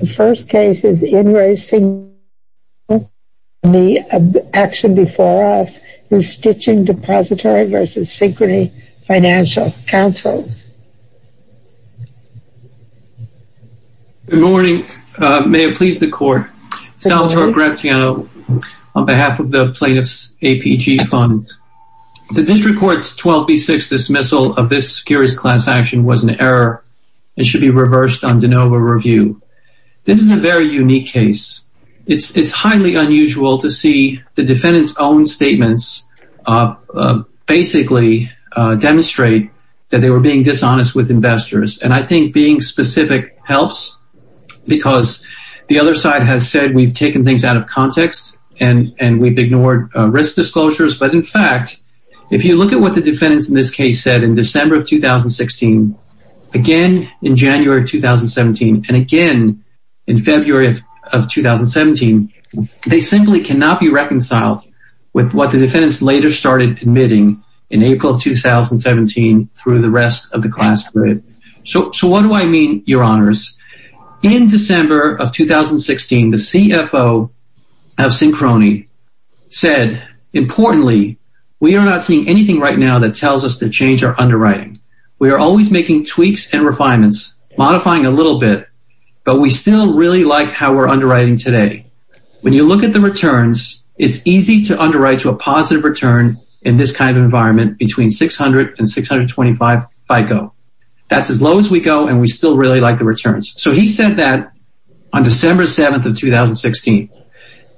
The first case is in re Synchrony Action before us, Stitching Depository vs. Synchrony Financial Councils. Good morning, may it please the court, Salvatore Graziano on behalf of the Plaintiffs APG Fund. The District Court's 12B6 dismissal of this curious class action was an error and should be reversed on de novo review. This is a very unique case. It's highly unusual to see the defendant's own statements basically demonstrate that they were being dishonest with investors. And I think being specific helps because the other side has said we've taken things out of context and we've ignored risk disclosures. But in fact, if you look at what the defendants in this case said in December of 2016, again in January of 2017, and again in February of 2017, they simply cannot be reconciled with what the defendants later started admitting in April of 2017 through the rest of the class period. So what do I mean, your honors? In December of 2016, the CFO of Synchrony said, importantly, we are not seeing anything right now that tells us to change our underwriting. We are always making tweaks and refinements, modifying a little bit, but we still really like how we're underwriting today. When you look at the returns, it's easy to underwrite to a positive return in this kind of environment between 600 and 625 FICO. That's as low as we go and we still really like the returns. So he said that on December 7th of 2016.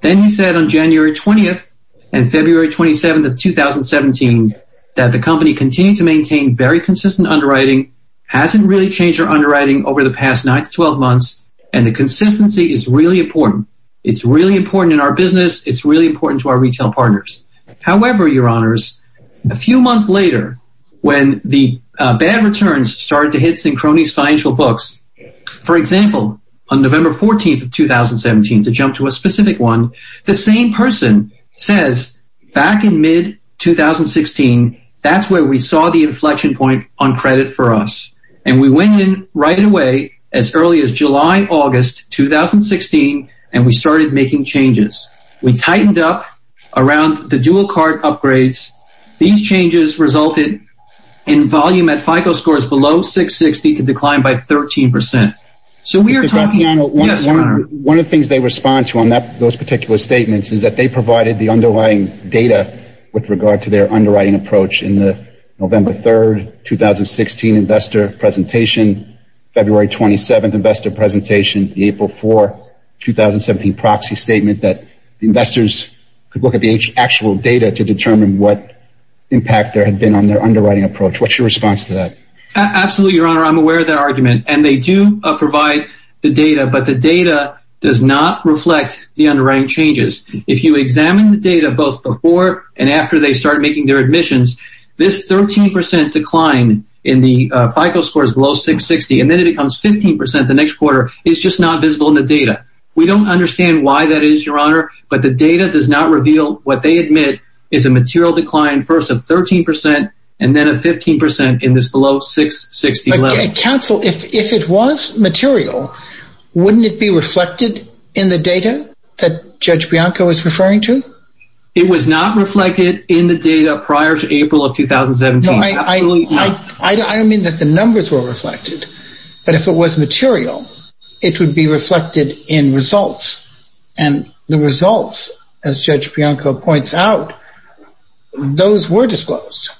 Then he said on January 20th and February 27th of 2017 that the company continued to have consistent underwriting, hasn't really changed their underwriting over the past nine to 12 months, and the consistency is really important. It's really important in our business. It's really important to our retail partners. However, your honors, a few months later, when the bad returns started to hit Synchrony's financial books, for example, on November 14th of 2017, to jump to a specific one, the company saw the inflection point on credit for us and we went in right away as early as July, August 2016, and we started making changes. We tightened up around the dual card upgrades. These changes resulted in volume at FICO scores below 660 to decline by 13 percent. So we are talking about one of the things they respond to on those particular statements is that they provided the underlying data with regard to their underwriting approach in the November 3rd, 2016 investor presentation, February 27th investor presentation, the April 4, 2017 proxy statement that investors could look at the actual data to determine what impact there had been on their underwriting approach. What's your response to that? Absolutely, your honor, I'm aware of that argument and they do provide the data, but the data does not reflect the underwriting changes. If you examine the data both before and after they start making their admissions, this 13 percent decline in the FICO scores below 660 and then it becomes 15 percent the next quarter is just not visible in the data. We don't understand why that is, your honor, but the data does not reveal what they admit is a material decline first of 13 percent and then a 15 percent in this below 660 level. Counsel, if it was material, wouldn't it be reflected in the data that Judge Bianco is referring to? It was not reflected in the data prior to April of 2017. I don't mean that the numbers were reflected, but if it was material, it would be reflected in results and the results, as Judge Bianco points out, those were disclosed.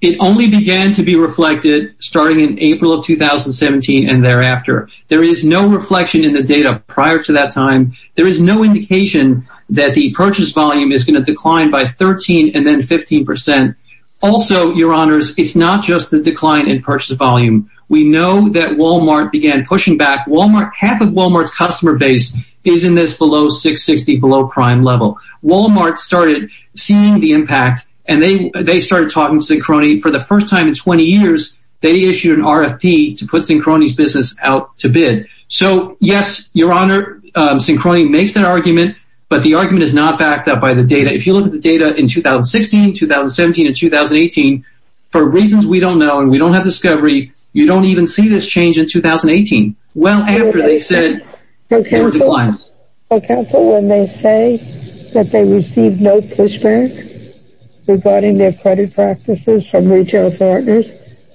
It only began to be reflected starting in April of 2017 and thereafter. There is no reflection in the data prior to that time. There is no indication that the purchase volume is going to decline by 13 and then 15 percent. Also, your honors, it's not just the decline in purchase volume. We know that Walmart began pushing back. Half of Walmart's customer base is in this below 660, below prime level. Walmart started seeing the impact and they started talking to Sincrony for the first time in 20 years. They issued an RFP to put Sincrony's business out to bid. So, yes, your honor, Sincrony makes an argument, but the argument is not backed up by the data. If you look at the data in 2016, 2017 and 2018, for reasons we don't know and we don't have discovery, you don't even see this change in 2018. Well, after they said they were declined. So counsel, when they say that they received no pushback regarding their credit practices from retail partners,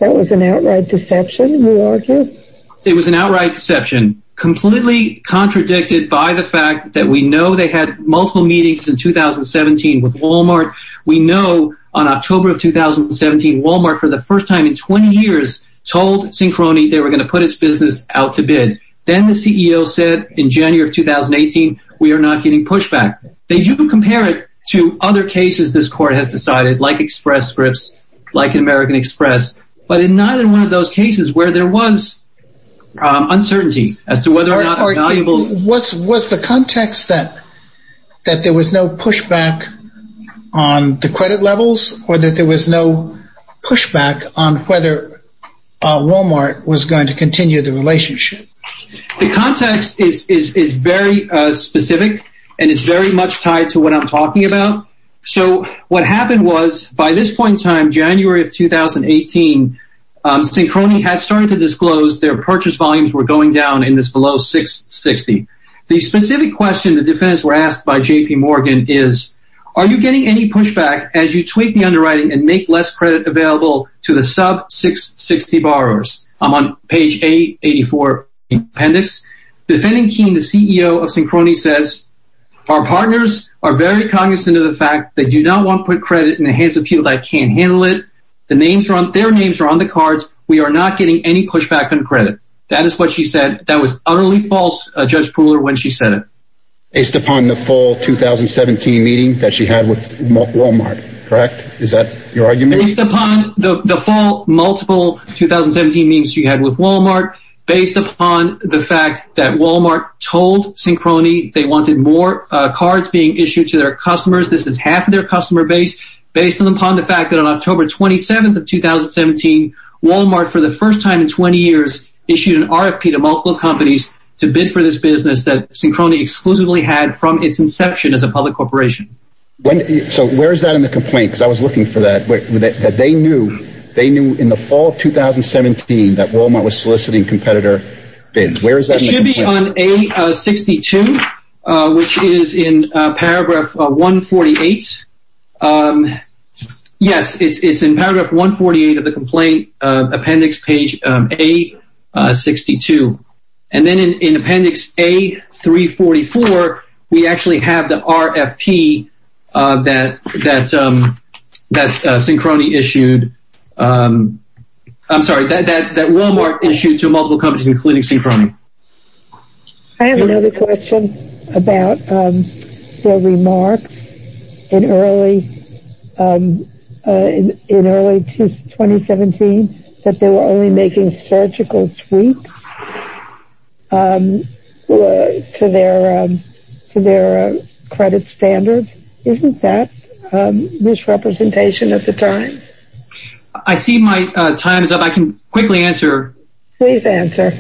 that was an outright deception, we argue. It was an outright deception, completely contradicted by the fact that we know they had multiple meetings in 2017 with Walmart. We know on October of 2017, Walmart, for the first time in 20 years, told Sincrony they were going to put its business out to bid. Then the CEO said in January of 2018, we are not getting pushback. They do compare it to other cases this court has decided, like Express Scripts, like American Express, but not in one of those cases where there was uncertainty as to whether or not it was. Was the context that that there was no pushback on the credit levels or that there was no pushback on whether Walmart was going to continue the relationship? The context is very specific and it's very much tied to what I'm talking about. So what happened was by this point in time, January of 2018, Sincrony has started to disclose their purchase volumes were going down in this below $660,000. The specific question the defendants were asked by JP Morgan is, are you getting any pushback as you tweak the underwriting and make less credit available to the sub $660,000 borrowers? I'm on page 884 in the appendix. Defending Keene, the CEO of Sincrony says, our partners are very cognizant of the fact that you don't want to put credit in the hands of people that can't handle it. The names are on their names are on the cards. We are not getting any pushback on credit. That is what she said. That was utterly false, Judge Pooler, when she said it. Based upon the full 2017 meeting that she had with Wal-Mart, correct, is that your argument? Based upon the full multiple 2017 meetings she had with Wal-Mart, based upon the fact that Wal-Mart told Sincrony they wanted more cards being issued to their customers. This is half of their customer base, based upon the fact that on October 27th of 2017, Wal-Mart, for the first time in 20 years, issued an RFP to multiple companies to bid for this business that Sincrony exclusively had from its inception as a public corporation. So where is that in the complaint? Because I was looking for that, that they knew they knew in the fall of 2017 that Wal-Mart was soliciting competitor bids. Where is that? It should be on A62, which is in paragraph 148. Yes, it's in paragraph 148 of the complaint appendix, page A62. And then in appendix A344, we actually have the RFP that Sincrony issued. I'm sorry, that Wal-Mart issued to multiple companies, including Sincrony. I have another question about their remarks in early in early 2017, that they were only making surgical tweaks to their credit standards. Isn't that misrepresentation at the time? I see my time is up. I can quickly answer. Please answer.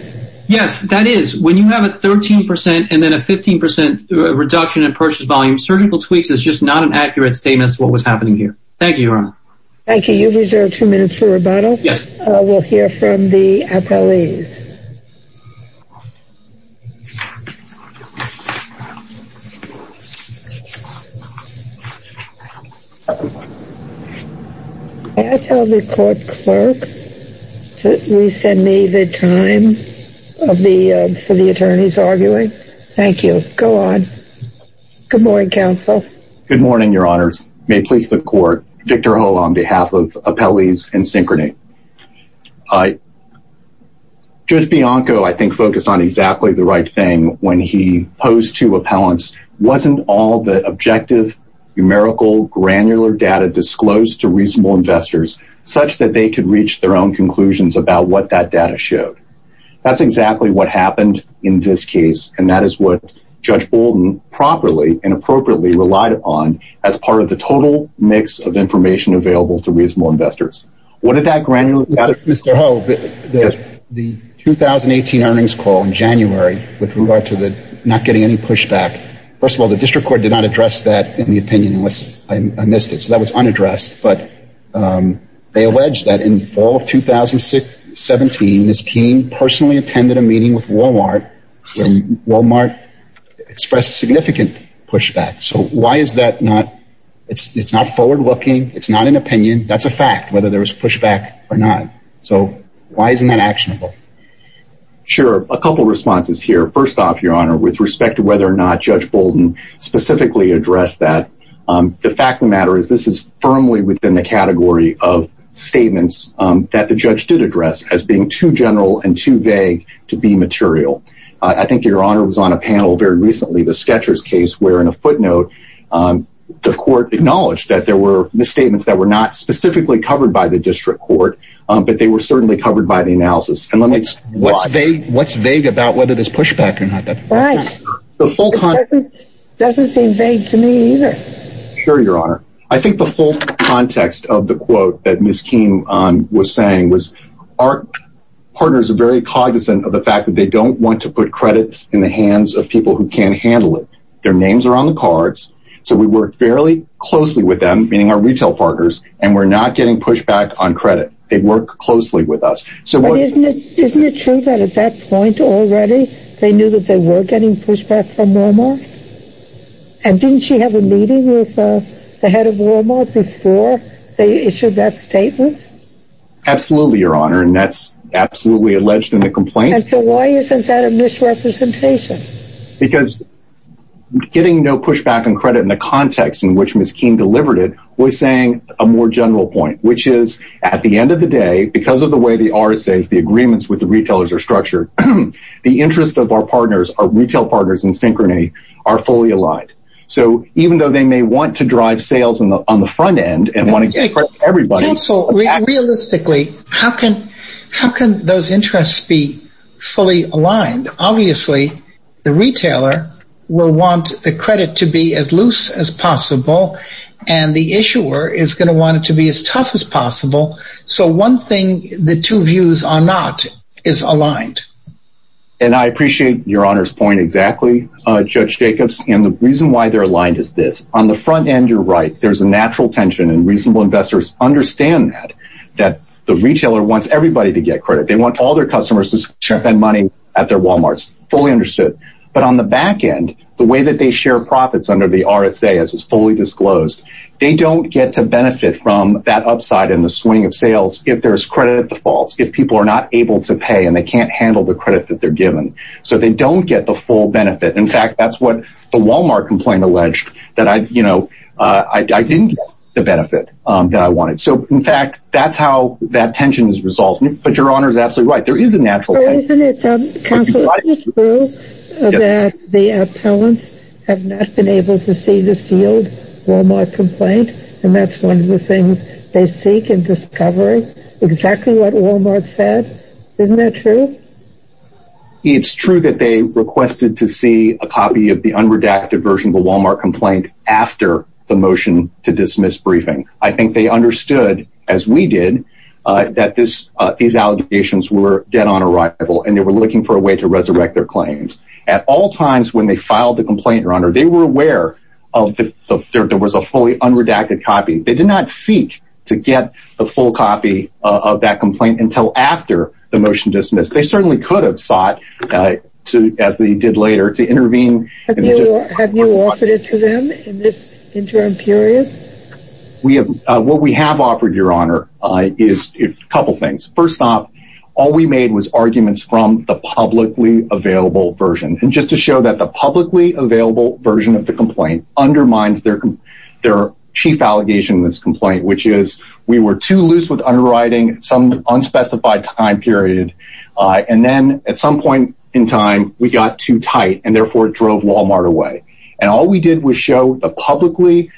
Yes, that is. When you have a 13 percent and then a 15 percent reduction in purchase volume, surgical tweaks is just not an accurate statement as to what was happening here. Thank you, Your Honor. Thank you. You've reserved two minutes for rebuttal. Yes. We'll hear from the appellees. May I tell the court clerk to resend me the time of the for the attorneys arguing? Thank you. Go on. Good morning, counsel. Good morning, Your Honors. May it please the court, Victor Ho on behalf of Appellees and Sincrony. Judge Bianco, I think, focused on exactly the right thing when he posed to appellants. Wasn't all the objective, numerical, granular data disclosed to reasonable investors such that they could reach their own conclusions about what that data showed? That's exactly what happened in this case. And that is what Judge Bolden properly and appropriately relied upon as part of the total mix of information available to reasonable investors. What did that granular data? Mr. Ho, the 2018 earnings call in January with regard to the not getting any pushback. First of all, the district court did not address that in the opinion unless I missed it. So that was unaddressed. But they allege that in fall of 2017, Ms. King personally attended a meeting with Wal-Mart where Wal-Mart expressed significant pushback. So why is that not? It's not forward looking. It's not an opinion. That's a fact. Whether there was pushback or not. So why isn't that actionable? Sure. A couple of responses here. First off, Your Honor, with respect to whether or not Judge Bolden specifically addressed that. The fact of the matter is this is firmly within the category of statements that the judge did address as being too general and too vague to be material. I think Your Honor was on a panel very recently, the Skechers case, where in a footnote the court acknowledged that there were misstatements that were not specifically covered by the district court, but they were certainly covered by the analysis. And what's vague about whether there's pushback or not? The full context doesn't seem vague to me either. Sure, Your Honor. I think the full context of the quote that Ms. King was saying was our partners are very cognizant of the fact that they don't want to put credits in the hands of people who can't handle it. Their names are on the cards. So we work fairly closely with them, meaning our retail partners, and we're not getting pushback on credit. They work closely with us. So isn't it true that at that point already they knew that they were getting pushback from Walmart? And didn't she have a meeting with the head of Walmart before they issued that statement? Absolutely, Your Honor. And that's absolutely alleged in the complaint. And so why isn't that a misrepresentation? Because getting no pushback on credit in the context in which Ms. King delivered it was saying a more general point, which is at the end of the day, because of the way the RSAs, the agreements with the retailers, are structured, the interest of our partners, our retail partners in synchrony, are fully aligned. So even though they may want to drive sales on the front end and want to get credit for everybody. Counsel, realistically, how can those interests be fully aligned? Obviously, the retailer will want the credit to be as loose as possible, and the issuer is going to want it to be as tough as possible. So one thing the two views are not is aligned. And I appreciate Your Honor's point exactly, Judge Jacobs, and the reason why they're aligned is this. On the front end, you're right. There's a natural tension and reasonable investors understand that the retailer wants everybody to get credit. They want all their customers to spend money at their Walmarts. Fully understood. But on the back end, the way that they share profits under the RSA, as is fully disclosed, they don't get to benefit from that upside in the swing of sales if there's credit defaults, if people are not able to pay and they can't handle the credit that they're given. So they don't get the full benefit. In fact, that's what the Walmart complaint alleged, that I didn't get the benefit that I wanted. So, in fact, that's how that tension is resolved. But Your Honor is absolutely right. There is a natural tension. So isn't it true that the appellants have not been able to see the sealed Walmart complaint? And that's one of the things they seek in discovery, exactly what Walmart said. Isn't that true? It's true that they requested to see a copy of the unredacted version of the Walmart complaint after the motion to dismiss briefing. I think they understood, as we did, that these allegations were dead on arrival and they were looking for a way to resurrect their claims. At all times when they filed the complaint, Your Honor, they were aware of the fact that there was a fully unredacted copy. They did not seek to get the full copy of that complaint until after the motion dismissed. They certainly could have sought, as they did later, to intervene. Have you offered it to them in this interim period? What we have offered, Your Honor, is a couple of things. First off, all we made was arguments from the publicly available version. And just to show that the publicly available version of the complaint undermines their chief allegation in this complaint, which is we were too loose with underwriting some unspecified time period. And then at some point in time, we got too tight and therefore drove Walmart away. And all we did was show the publicly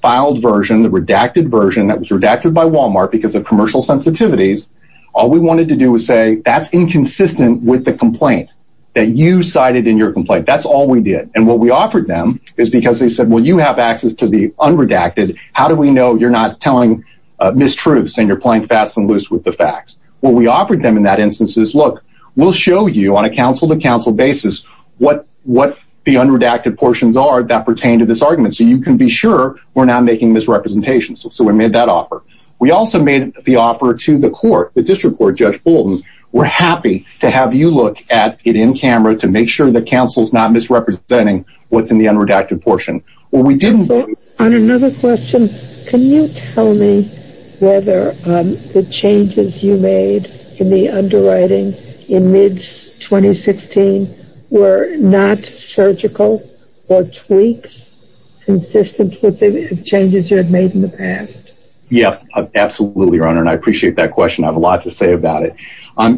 filed version, the redacted version that was redacted by Walmart because of commercial sensitivities. All we wanted to do was say that's inconsistent with the complaint that you cited in your complaint. That's all we did. And what we offered them is because they said, well, you have access to the unredacted. How do we know you're not telling mistruths and you're playing fast and loose with the facts? What we offered them in that instance is, look, we'll show you on a council to what what the unredacted portions are that pertain to this argument. So you can be sure we're not making misrepresentations. So we made that offer. We also made the offer to the court, the district court. Judge Bolton, we're happy to have you look at it in camera to make sure the council's not misrepresenting what's in the unredacted portion. Well, we didn't. On another question, can you tell me whether the changes you made in the complaint were not surgical or tweaks consistent with the changes you had made in the past? Yeah, absolutely, Your Honor. And I appreciate that question. I have a lot to say about it.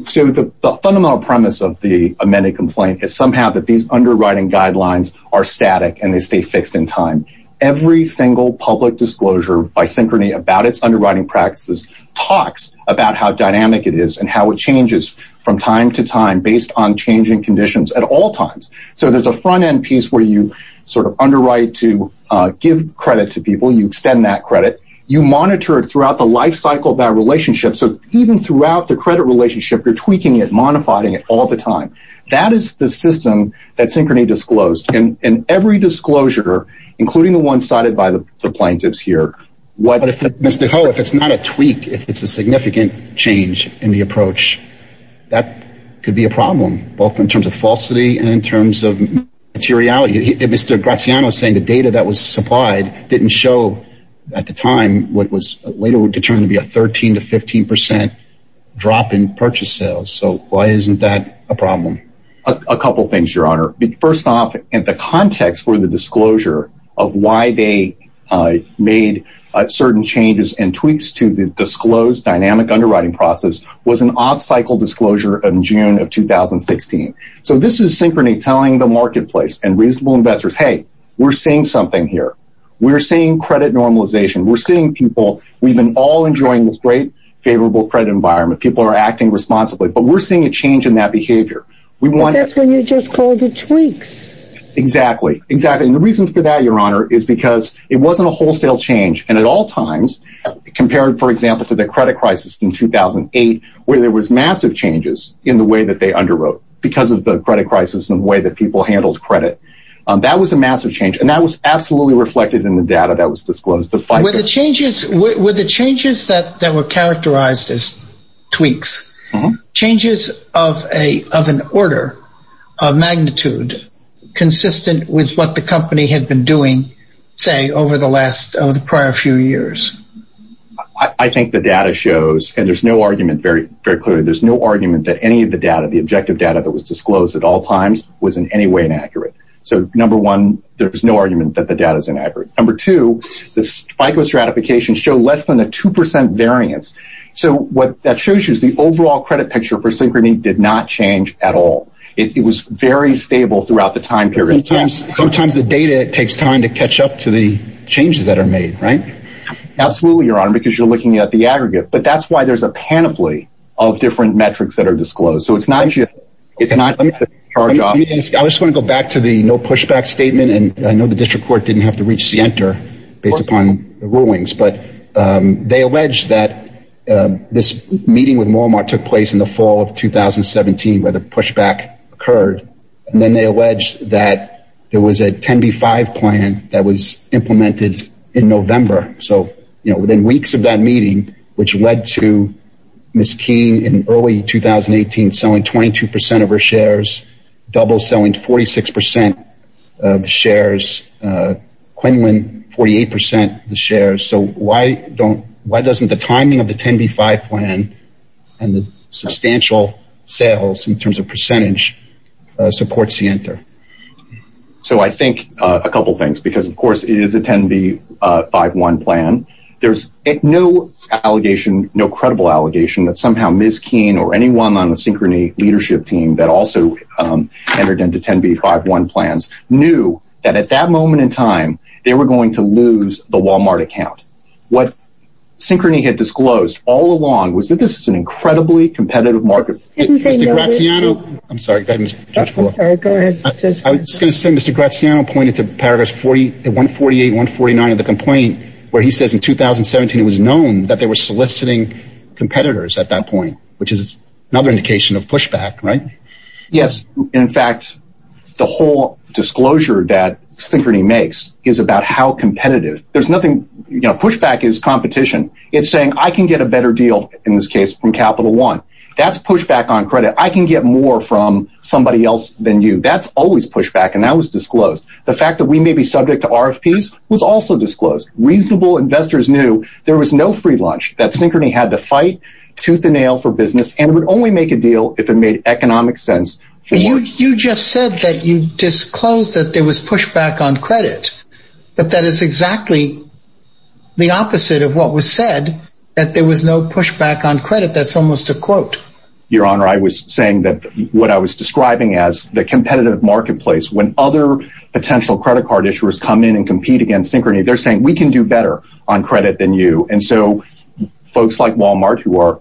So the fundamental premise of the amended complaint is somehow that these underwriting guidelines are static and they stay fixed in time. Every single public disclosure, by synchrony, about its underwriting practices, talks about how dynamic it is and how it changes from time to time at all times. So there's a front end piece where you sort of underwrite to give credit to people. You extend that credit. You monitor it throughout the life cycle of that relationship. So even throughout the credit relationship, you're tweaking it, modifying it all the time. That is the system that synchrony disclosed in every disclosure, including the one cited by the plaintiffs here. But if it's not a tweak, if it's a significant change in the approach, that could be a problem, both in terms of falsity and in terms of materiality. Mr. Graziano saying the data that was supplied didn't show at the time what was later determined to be a 13 to 15 percent drop in purchase sales. So why isn't that a problem? A couple of things, Your Honor. First off, in the context for the disclosure of why they made certain changes and tweaks to the disclosed dynamic underwriting process was an off-cycle disclosure in June of 2016. So this is synchrony telling the marketplace and reasonable investors, hey, we're seeing something here. We're seeing credit normalization. We're seeing people. We've been all enjoying this great, favorable credit environment. People are acting responsibly. But we're seeing a change in that behavior. We want. That's when you just call the tweaks. Exactly. Exactly. And the reason for that, Your Honor, is because it wasn't a wholesale change. And at all times, compared, for example, to the credit crisis in 2008, where there was massive changes in the way that they underwrote because of the credit crisis and the way that people handled credit, that was a massive change. And that was absolutely reflected in the data that was disclosed. The changes were the changes that were characterized as tweaks, changes of a of an order of magnitude consistent with what the company had been doing, say, over the last of the prior few years. I think the data shows and there's no argument very, very clearly, there's no argument that any of the data, the objective data that was disclosed at all times was in any way inaccurate. So, number one, there's no argument that the data is inaccurate. Number two, the FICO stratification show less than a two percent variance. So what that shows you is the overall credit picture for Synchrony did not change at all. It was very stable throughout the time period. Sometimes the data takes time to catch up to the changes that are made. Right. Absolutely. Your honor, because you're looking at the aggregate. But that's why there's a panoply of different metrics that are disclosed. So it's not just it's not our job. I just want to go back to the no pushback statement. And I know the district court didn't have to reach the enter based upon the rulings, but they alleged that this meeting with Walmart took place in the fall of 2017, where the pushback occurred. And then they alleged that there was a 10B5 plan that was implemented in November. So, you know, within weeks of that meeting, which led to Ms. King in early 2018, selling 22 percent of her shares, double selling 46 percent of the shares, Quinlan 48 percent of the shares. So why don't why doesn't the timing of the 10B5 plan and the substantial sales in terms of percentage supports the enter? So I think a couple of things, because, of course, it is a 10B51 plan. There's no allegation, no credible allegation that somehow Ms. King or anyone on the Synchrony leadership team that also entered into 10B51 plans knew that at that moment in time they were going to lose the Walmart account. What Synchrony had disclosed all along was that this is an incredibly competitive market. Mr. Graziano, I'm sorry. I'm sorry. Go ahead. I was going to say, Mr. Graziano pointed to paragraph 40, 148, 149 of the complaint where he says in 2017, it was known that they were soliciting competitors at that point, which is another indication of pushback, right? Yes. In fact, the whole disclosure that Synchrony makes is about how competitive there's nothing pushback is competition. It's saying I can get a better deal in this case from Capital One. That's pushback on credit. I can get more from somebody else than you. That's always pushback. And that was disclosed. The fact that we may be subject to RFPs was also disclosed. Reasonable investors knew there was no free lunch that Synchrony had to fight tooth and nail for business and would only make a deal if it made economic sense. You just said that you disclosed that there was pushback on credit, but that is exactly the opposite of what was said, that there was no pushback on credit. That's almost a quote. Your Honor, I was saying that what I was describing as the competitive marketplace, when other potential credit card issuers come in and compete against Synchrony, they're saying we can do better on credit than you. And so folks like Walmart, who are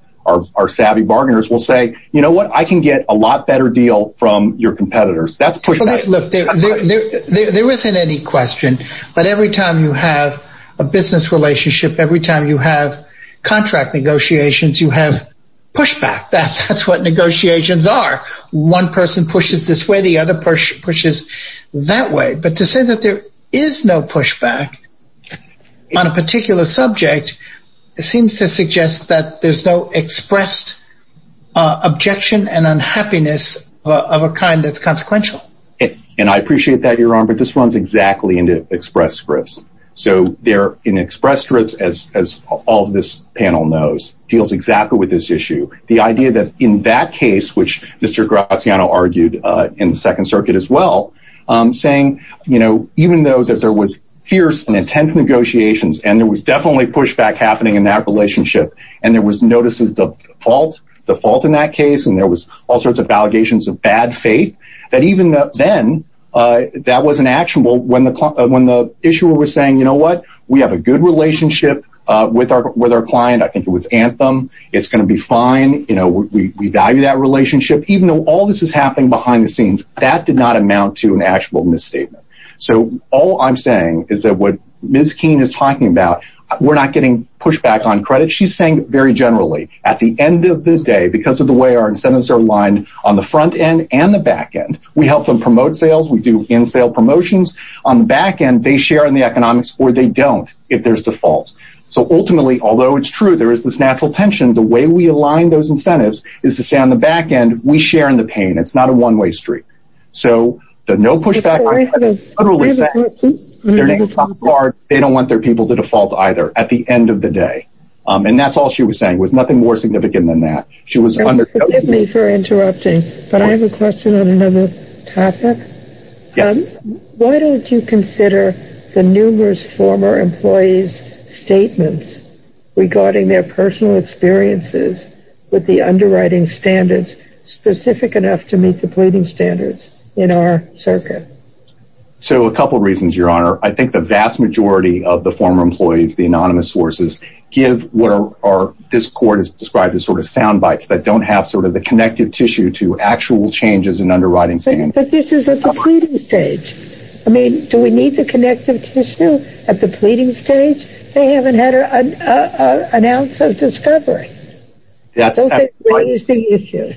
our savvy bargainers, will say, you know what, I can get a lot better deal from your competitors. That's pushback. Look, there isn't any question, but every time you have a business relationship, every time you have contract negotiations, you have pushback. That's what negotiations are. One person pushes this way, the other person pushes that way. But to say that there is no pushback on a particular subject seems to suggest that there's no expressed objection and unhappiness of a kind that's consequential. And I appreciate that, Your Honor, but this runs exactly into express scripts. So they're in express scripts, as all of this panel knows, deals exactly with this issue, the idea that in that case, which Mr. Graziano argued in the Second Circuit as well, saying, you know, even though that there was fierce and intense negotiations and there was definitely pushback happening in that relationship, and there was notices of fault, the fault in that case, and there was all sorts of allegations of bad faith, that even then, that wasn't actionable when the issuer was saying, you know what, we have a good relationship with our client. I think it was Anthem. It's going to be fine. You know, we value that relationship. Even though all this is happening behind the scenes, that did not amount to an actual misstatement. So all I'm saying is that what Ms. Keene is talking about, we're not getting pushback on credit. She's saying very generally at the end of this day, because of the way our incentives are aligned on the front end and the back end, we help them promote sales. We do in-sale promotions on the back end. They share in the economics or they don't if there's defaults. So ultimately, although it's true, there is this natural tension. The way we align those incentives is to stay on the back end. We share in the pain. It's not a one way street. So there's no pushback. Their names are, they don't want their people to default either at the end of the day. And that's all she was saying was nothing more significant than that. She was under me for interrupting. But I have a question on another topic. Why don't you consider the numerous former employees' statements regarding their personal experiences with the underwriting standards specific enough to meet the pleading standards in our circuit? So a couple of reasons, Your Honor, I think the vast majority of the former employees, the anonymous sources, give what this court has described as sort of soundbites that don't have sort of the connective tissue to actual changes in underwriting standards. But this is at the pleading stage. I mean, do we need the connective tissue at the pleading stage? They haven't had an ounce of discovery. That's the issue.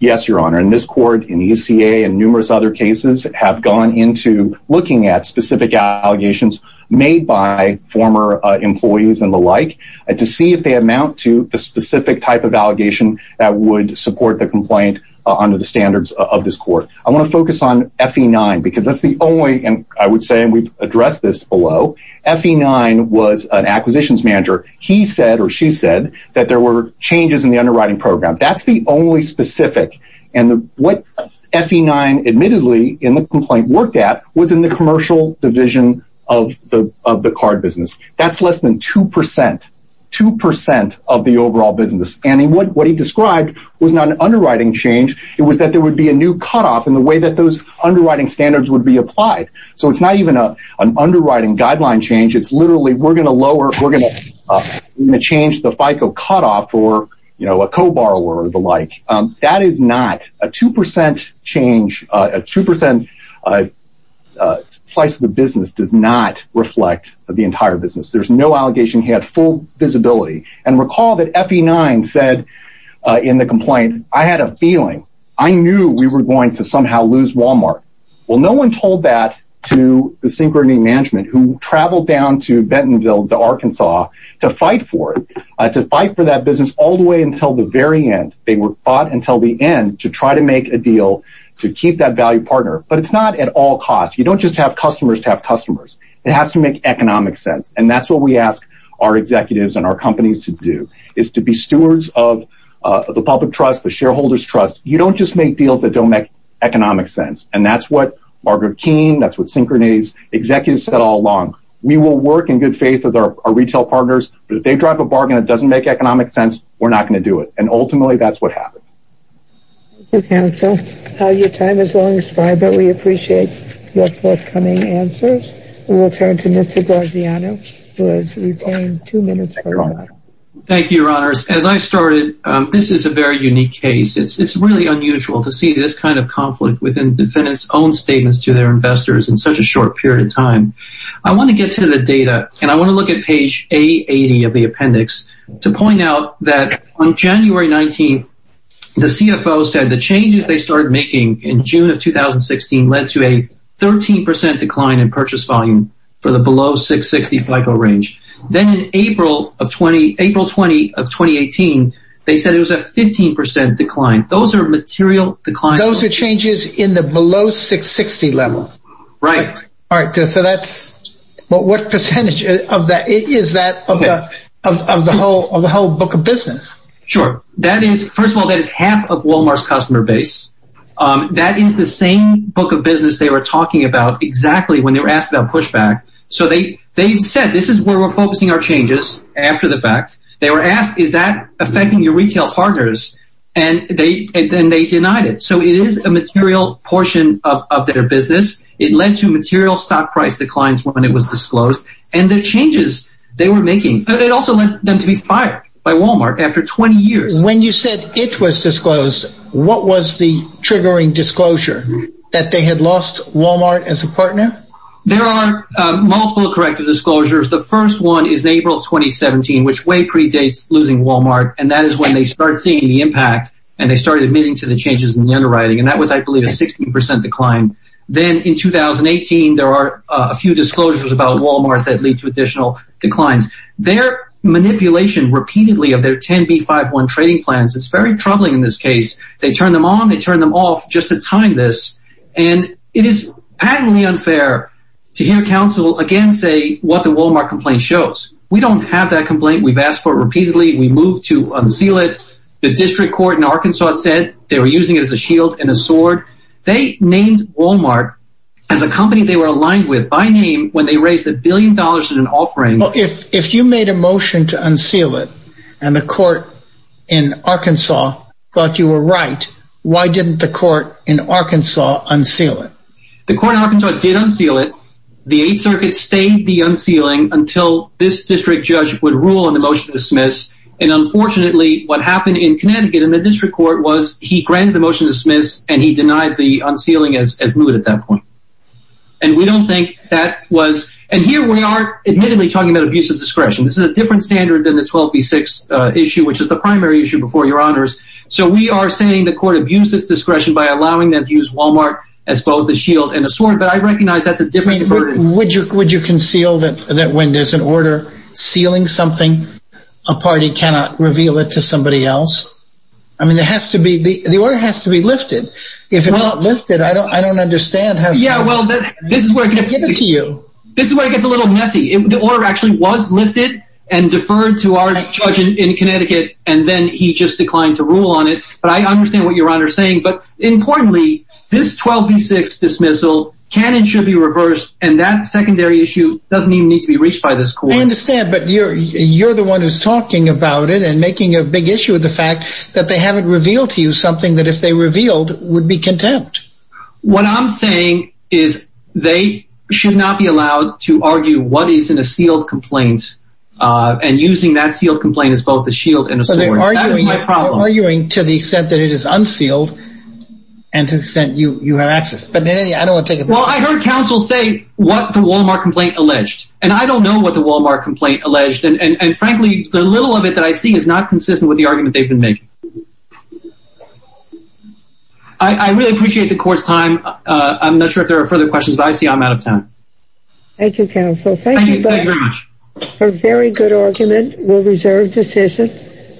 Yes, Your Honor. And this court in ECA and numerous other cases have gone into looking at specific allegations made by former employees and the like to see if they amount to the specific type of allegation that would support the complaint under the standards of this court. I want to focus on FE9 because that's the only and I would say we've addressed this below. FE9 was an acquisitions manager. He said or she said that there were changes in the underwriting program. That's the only specific. And what FE9 admittedly in the complaint worked at was in the commercial division of the of the card business. That's less than two percent, two percent of the overall business. And what he described was not an underwriting change. It was that there would be a new cutoff in the way that those underwriting standards would be applied. So it's not even an underwriting guideline change. It's literally we're going to lower we're going to change the FICO cutoff for, you know, a co-borrower or the like. That is not a two percent change, a two percent slice of the business does not reflect the entire business. There's no allegation. He had full visibility. And recall that FE9 said in the complaint, I had a feeling I knew we were going to somehow lose Walmart. Well, no one told that to the synchrony management who traveled down to Bentonville, to Arkansas, to fight for it, to fight for that business all the way until the very end. They were fought until the end to try to make a deal to keep that value partner. But it's not at all cost. You don't just have customers to have customers. It has to make economic sense. And that's what we ask our executives and our companies to do, is to be stewards of the public trust, the shareholders trust. You don't just make deals that don't make economic sense. And that's what Margaret Keene, that's what Synchrony's executives said all along. We will work in good faith with our retail partners. But if they drive a bargain that doesn't make economic sense, we're not going to do it. And ultimately, that's what happened. And so your time is almost five, but we appreciate your forthcoming answers. We'll turn to Mr. Gargiano, who has retained two minutes. Thank you, your honors. As I started, this is a very unique case. It's really unusual to see this kind of conflict within defendants own statements to their investors in such a short period of time. I want to get to the data and I want to look at page 80 of the appendix to point out that on January 19th, the CFO said the changes they started making in June of 2016 led to a 13 percent decline in purchase volume for the below 660 FICO range. Then in April of 20, April 20 of 2018, they said it was a 15 percent decline. Those are material decline. Those are changes in the below 660 level. Right. All right. So that's what percentage of that is that of the whole of the whole book of business? Sure. That is first of all, that is half of Wal-Mart's customer base. That is the same book of business they were talking about exactly when they were asked about pushback. So they they said this is where we're focusing our changes. After the fact, they were asked, is that affecting your retail partners? And they then they denied it. So it is a material portion of their business. It led to material stock price declines when it was disclosed and the changes they were making. It also led them to be fired by Wal-Mart after 20 years. When you said it was disclosed, what was the triggering disclosure that they had lost Wal-Mart as a partner? There are multiple corrective disclosures. The first one is April of 2017, which way predates losing Wal-Mart. And that is when they start seeing the impact and they started admitting to the changes in the underwriting. And that was, I believe, a 16 percent decline. Then in 2018, there are a few disclosures about Wal-Mart that lead to additional declines. Their manipulation repeatedly of their 10B51 trading plans. It's very troubling in this case. They turn them on, they turn them off just to time this. And it is patently unfair to hear counsel again say what the Wal-Mart complaint shows. We don't have that complaint. We've asked for it repeatedly. We move to unseal it. The district court in Arkansas said they were using it as a shield and a sword. They named Wal-Mart as a company they were aligned with by name when they raised a billion dollars in an offering. Well, if if you made a motion to unseal it and the court in Arkansas thought you were right, why didn't the court in Arkansas unseal it? The court in Arkansas did unseal it. The Eighth Circuit stayed the unsealing until this district judge would rule on the motion to dismiss. And unfortunately, what happened in Connecticut in the district court was he granted the motion to dismiss and he denied the unsealing as moot at that point. And we don't think that was. And here we are, admittedly, talking about abuse of discretion. This is a different standard than the 12B6 issue, which is the primary issue before your honors. So we are saying the court abused its discretion by allowing them to use Wal-Mart as both a shield and a sword. But I recognize that's a different. Would you would you conceal that that when there's an order sealing something, a party cannot reveal it to somebody else? I mean, there has to be the order has to be lifted. If it's not lifted, I don't I don't understand how. Yeah, well, this is where it gets to you. This is where it gets a little messy. The order actually was lifted and deferred to our judge in Connecticut, and then he just declined to rule on it. But I understand what you're saying. But importantly, this 12B6 dismissal can and should be reversed. And that secondary issue doesn't even need to be reached by this court. I understand. But you're you're the one who's talking about it and making a big issue of the fact that they haven't revealed to you something that if they revealed would be contempt. What I'm saying is they should not be allowed to argue what is in a sealed complaint and using that sealed complaint as both a shield and a sword. That is my problem. Arguing to the extent that it is unsealed and to the extent you have access. But I don't take it. Well, I heard counsel say what the Wal-Mart complaint alleged, and I don't know what the Wal-Mart complaint alleged. And frankly, the little of it that I see is not consistent with the argument they've been making. I really appreciate the court's time. I'm not sure if there are further questions, but I see I'm out of time. Thank you, counsel. Thank you for a very good argument. We'll reserve decision.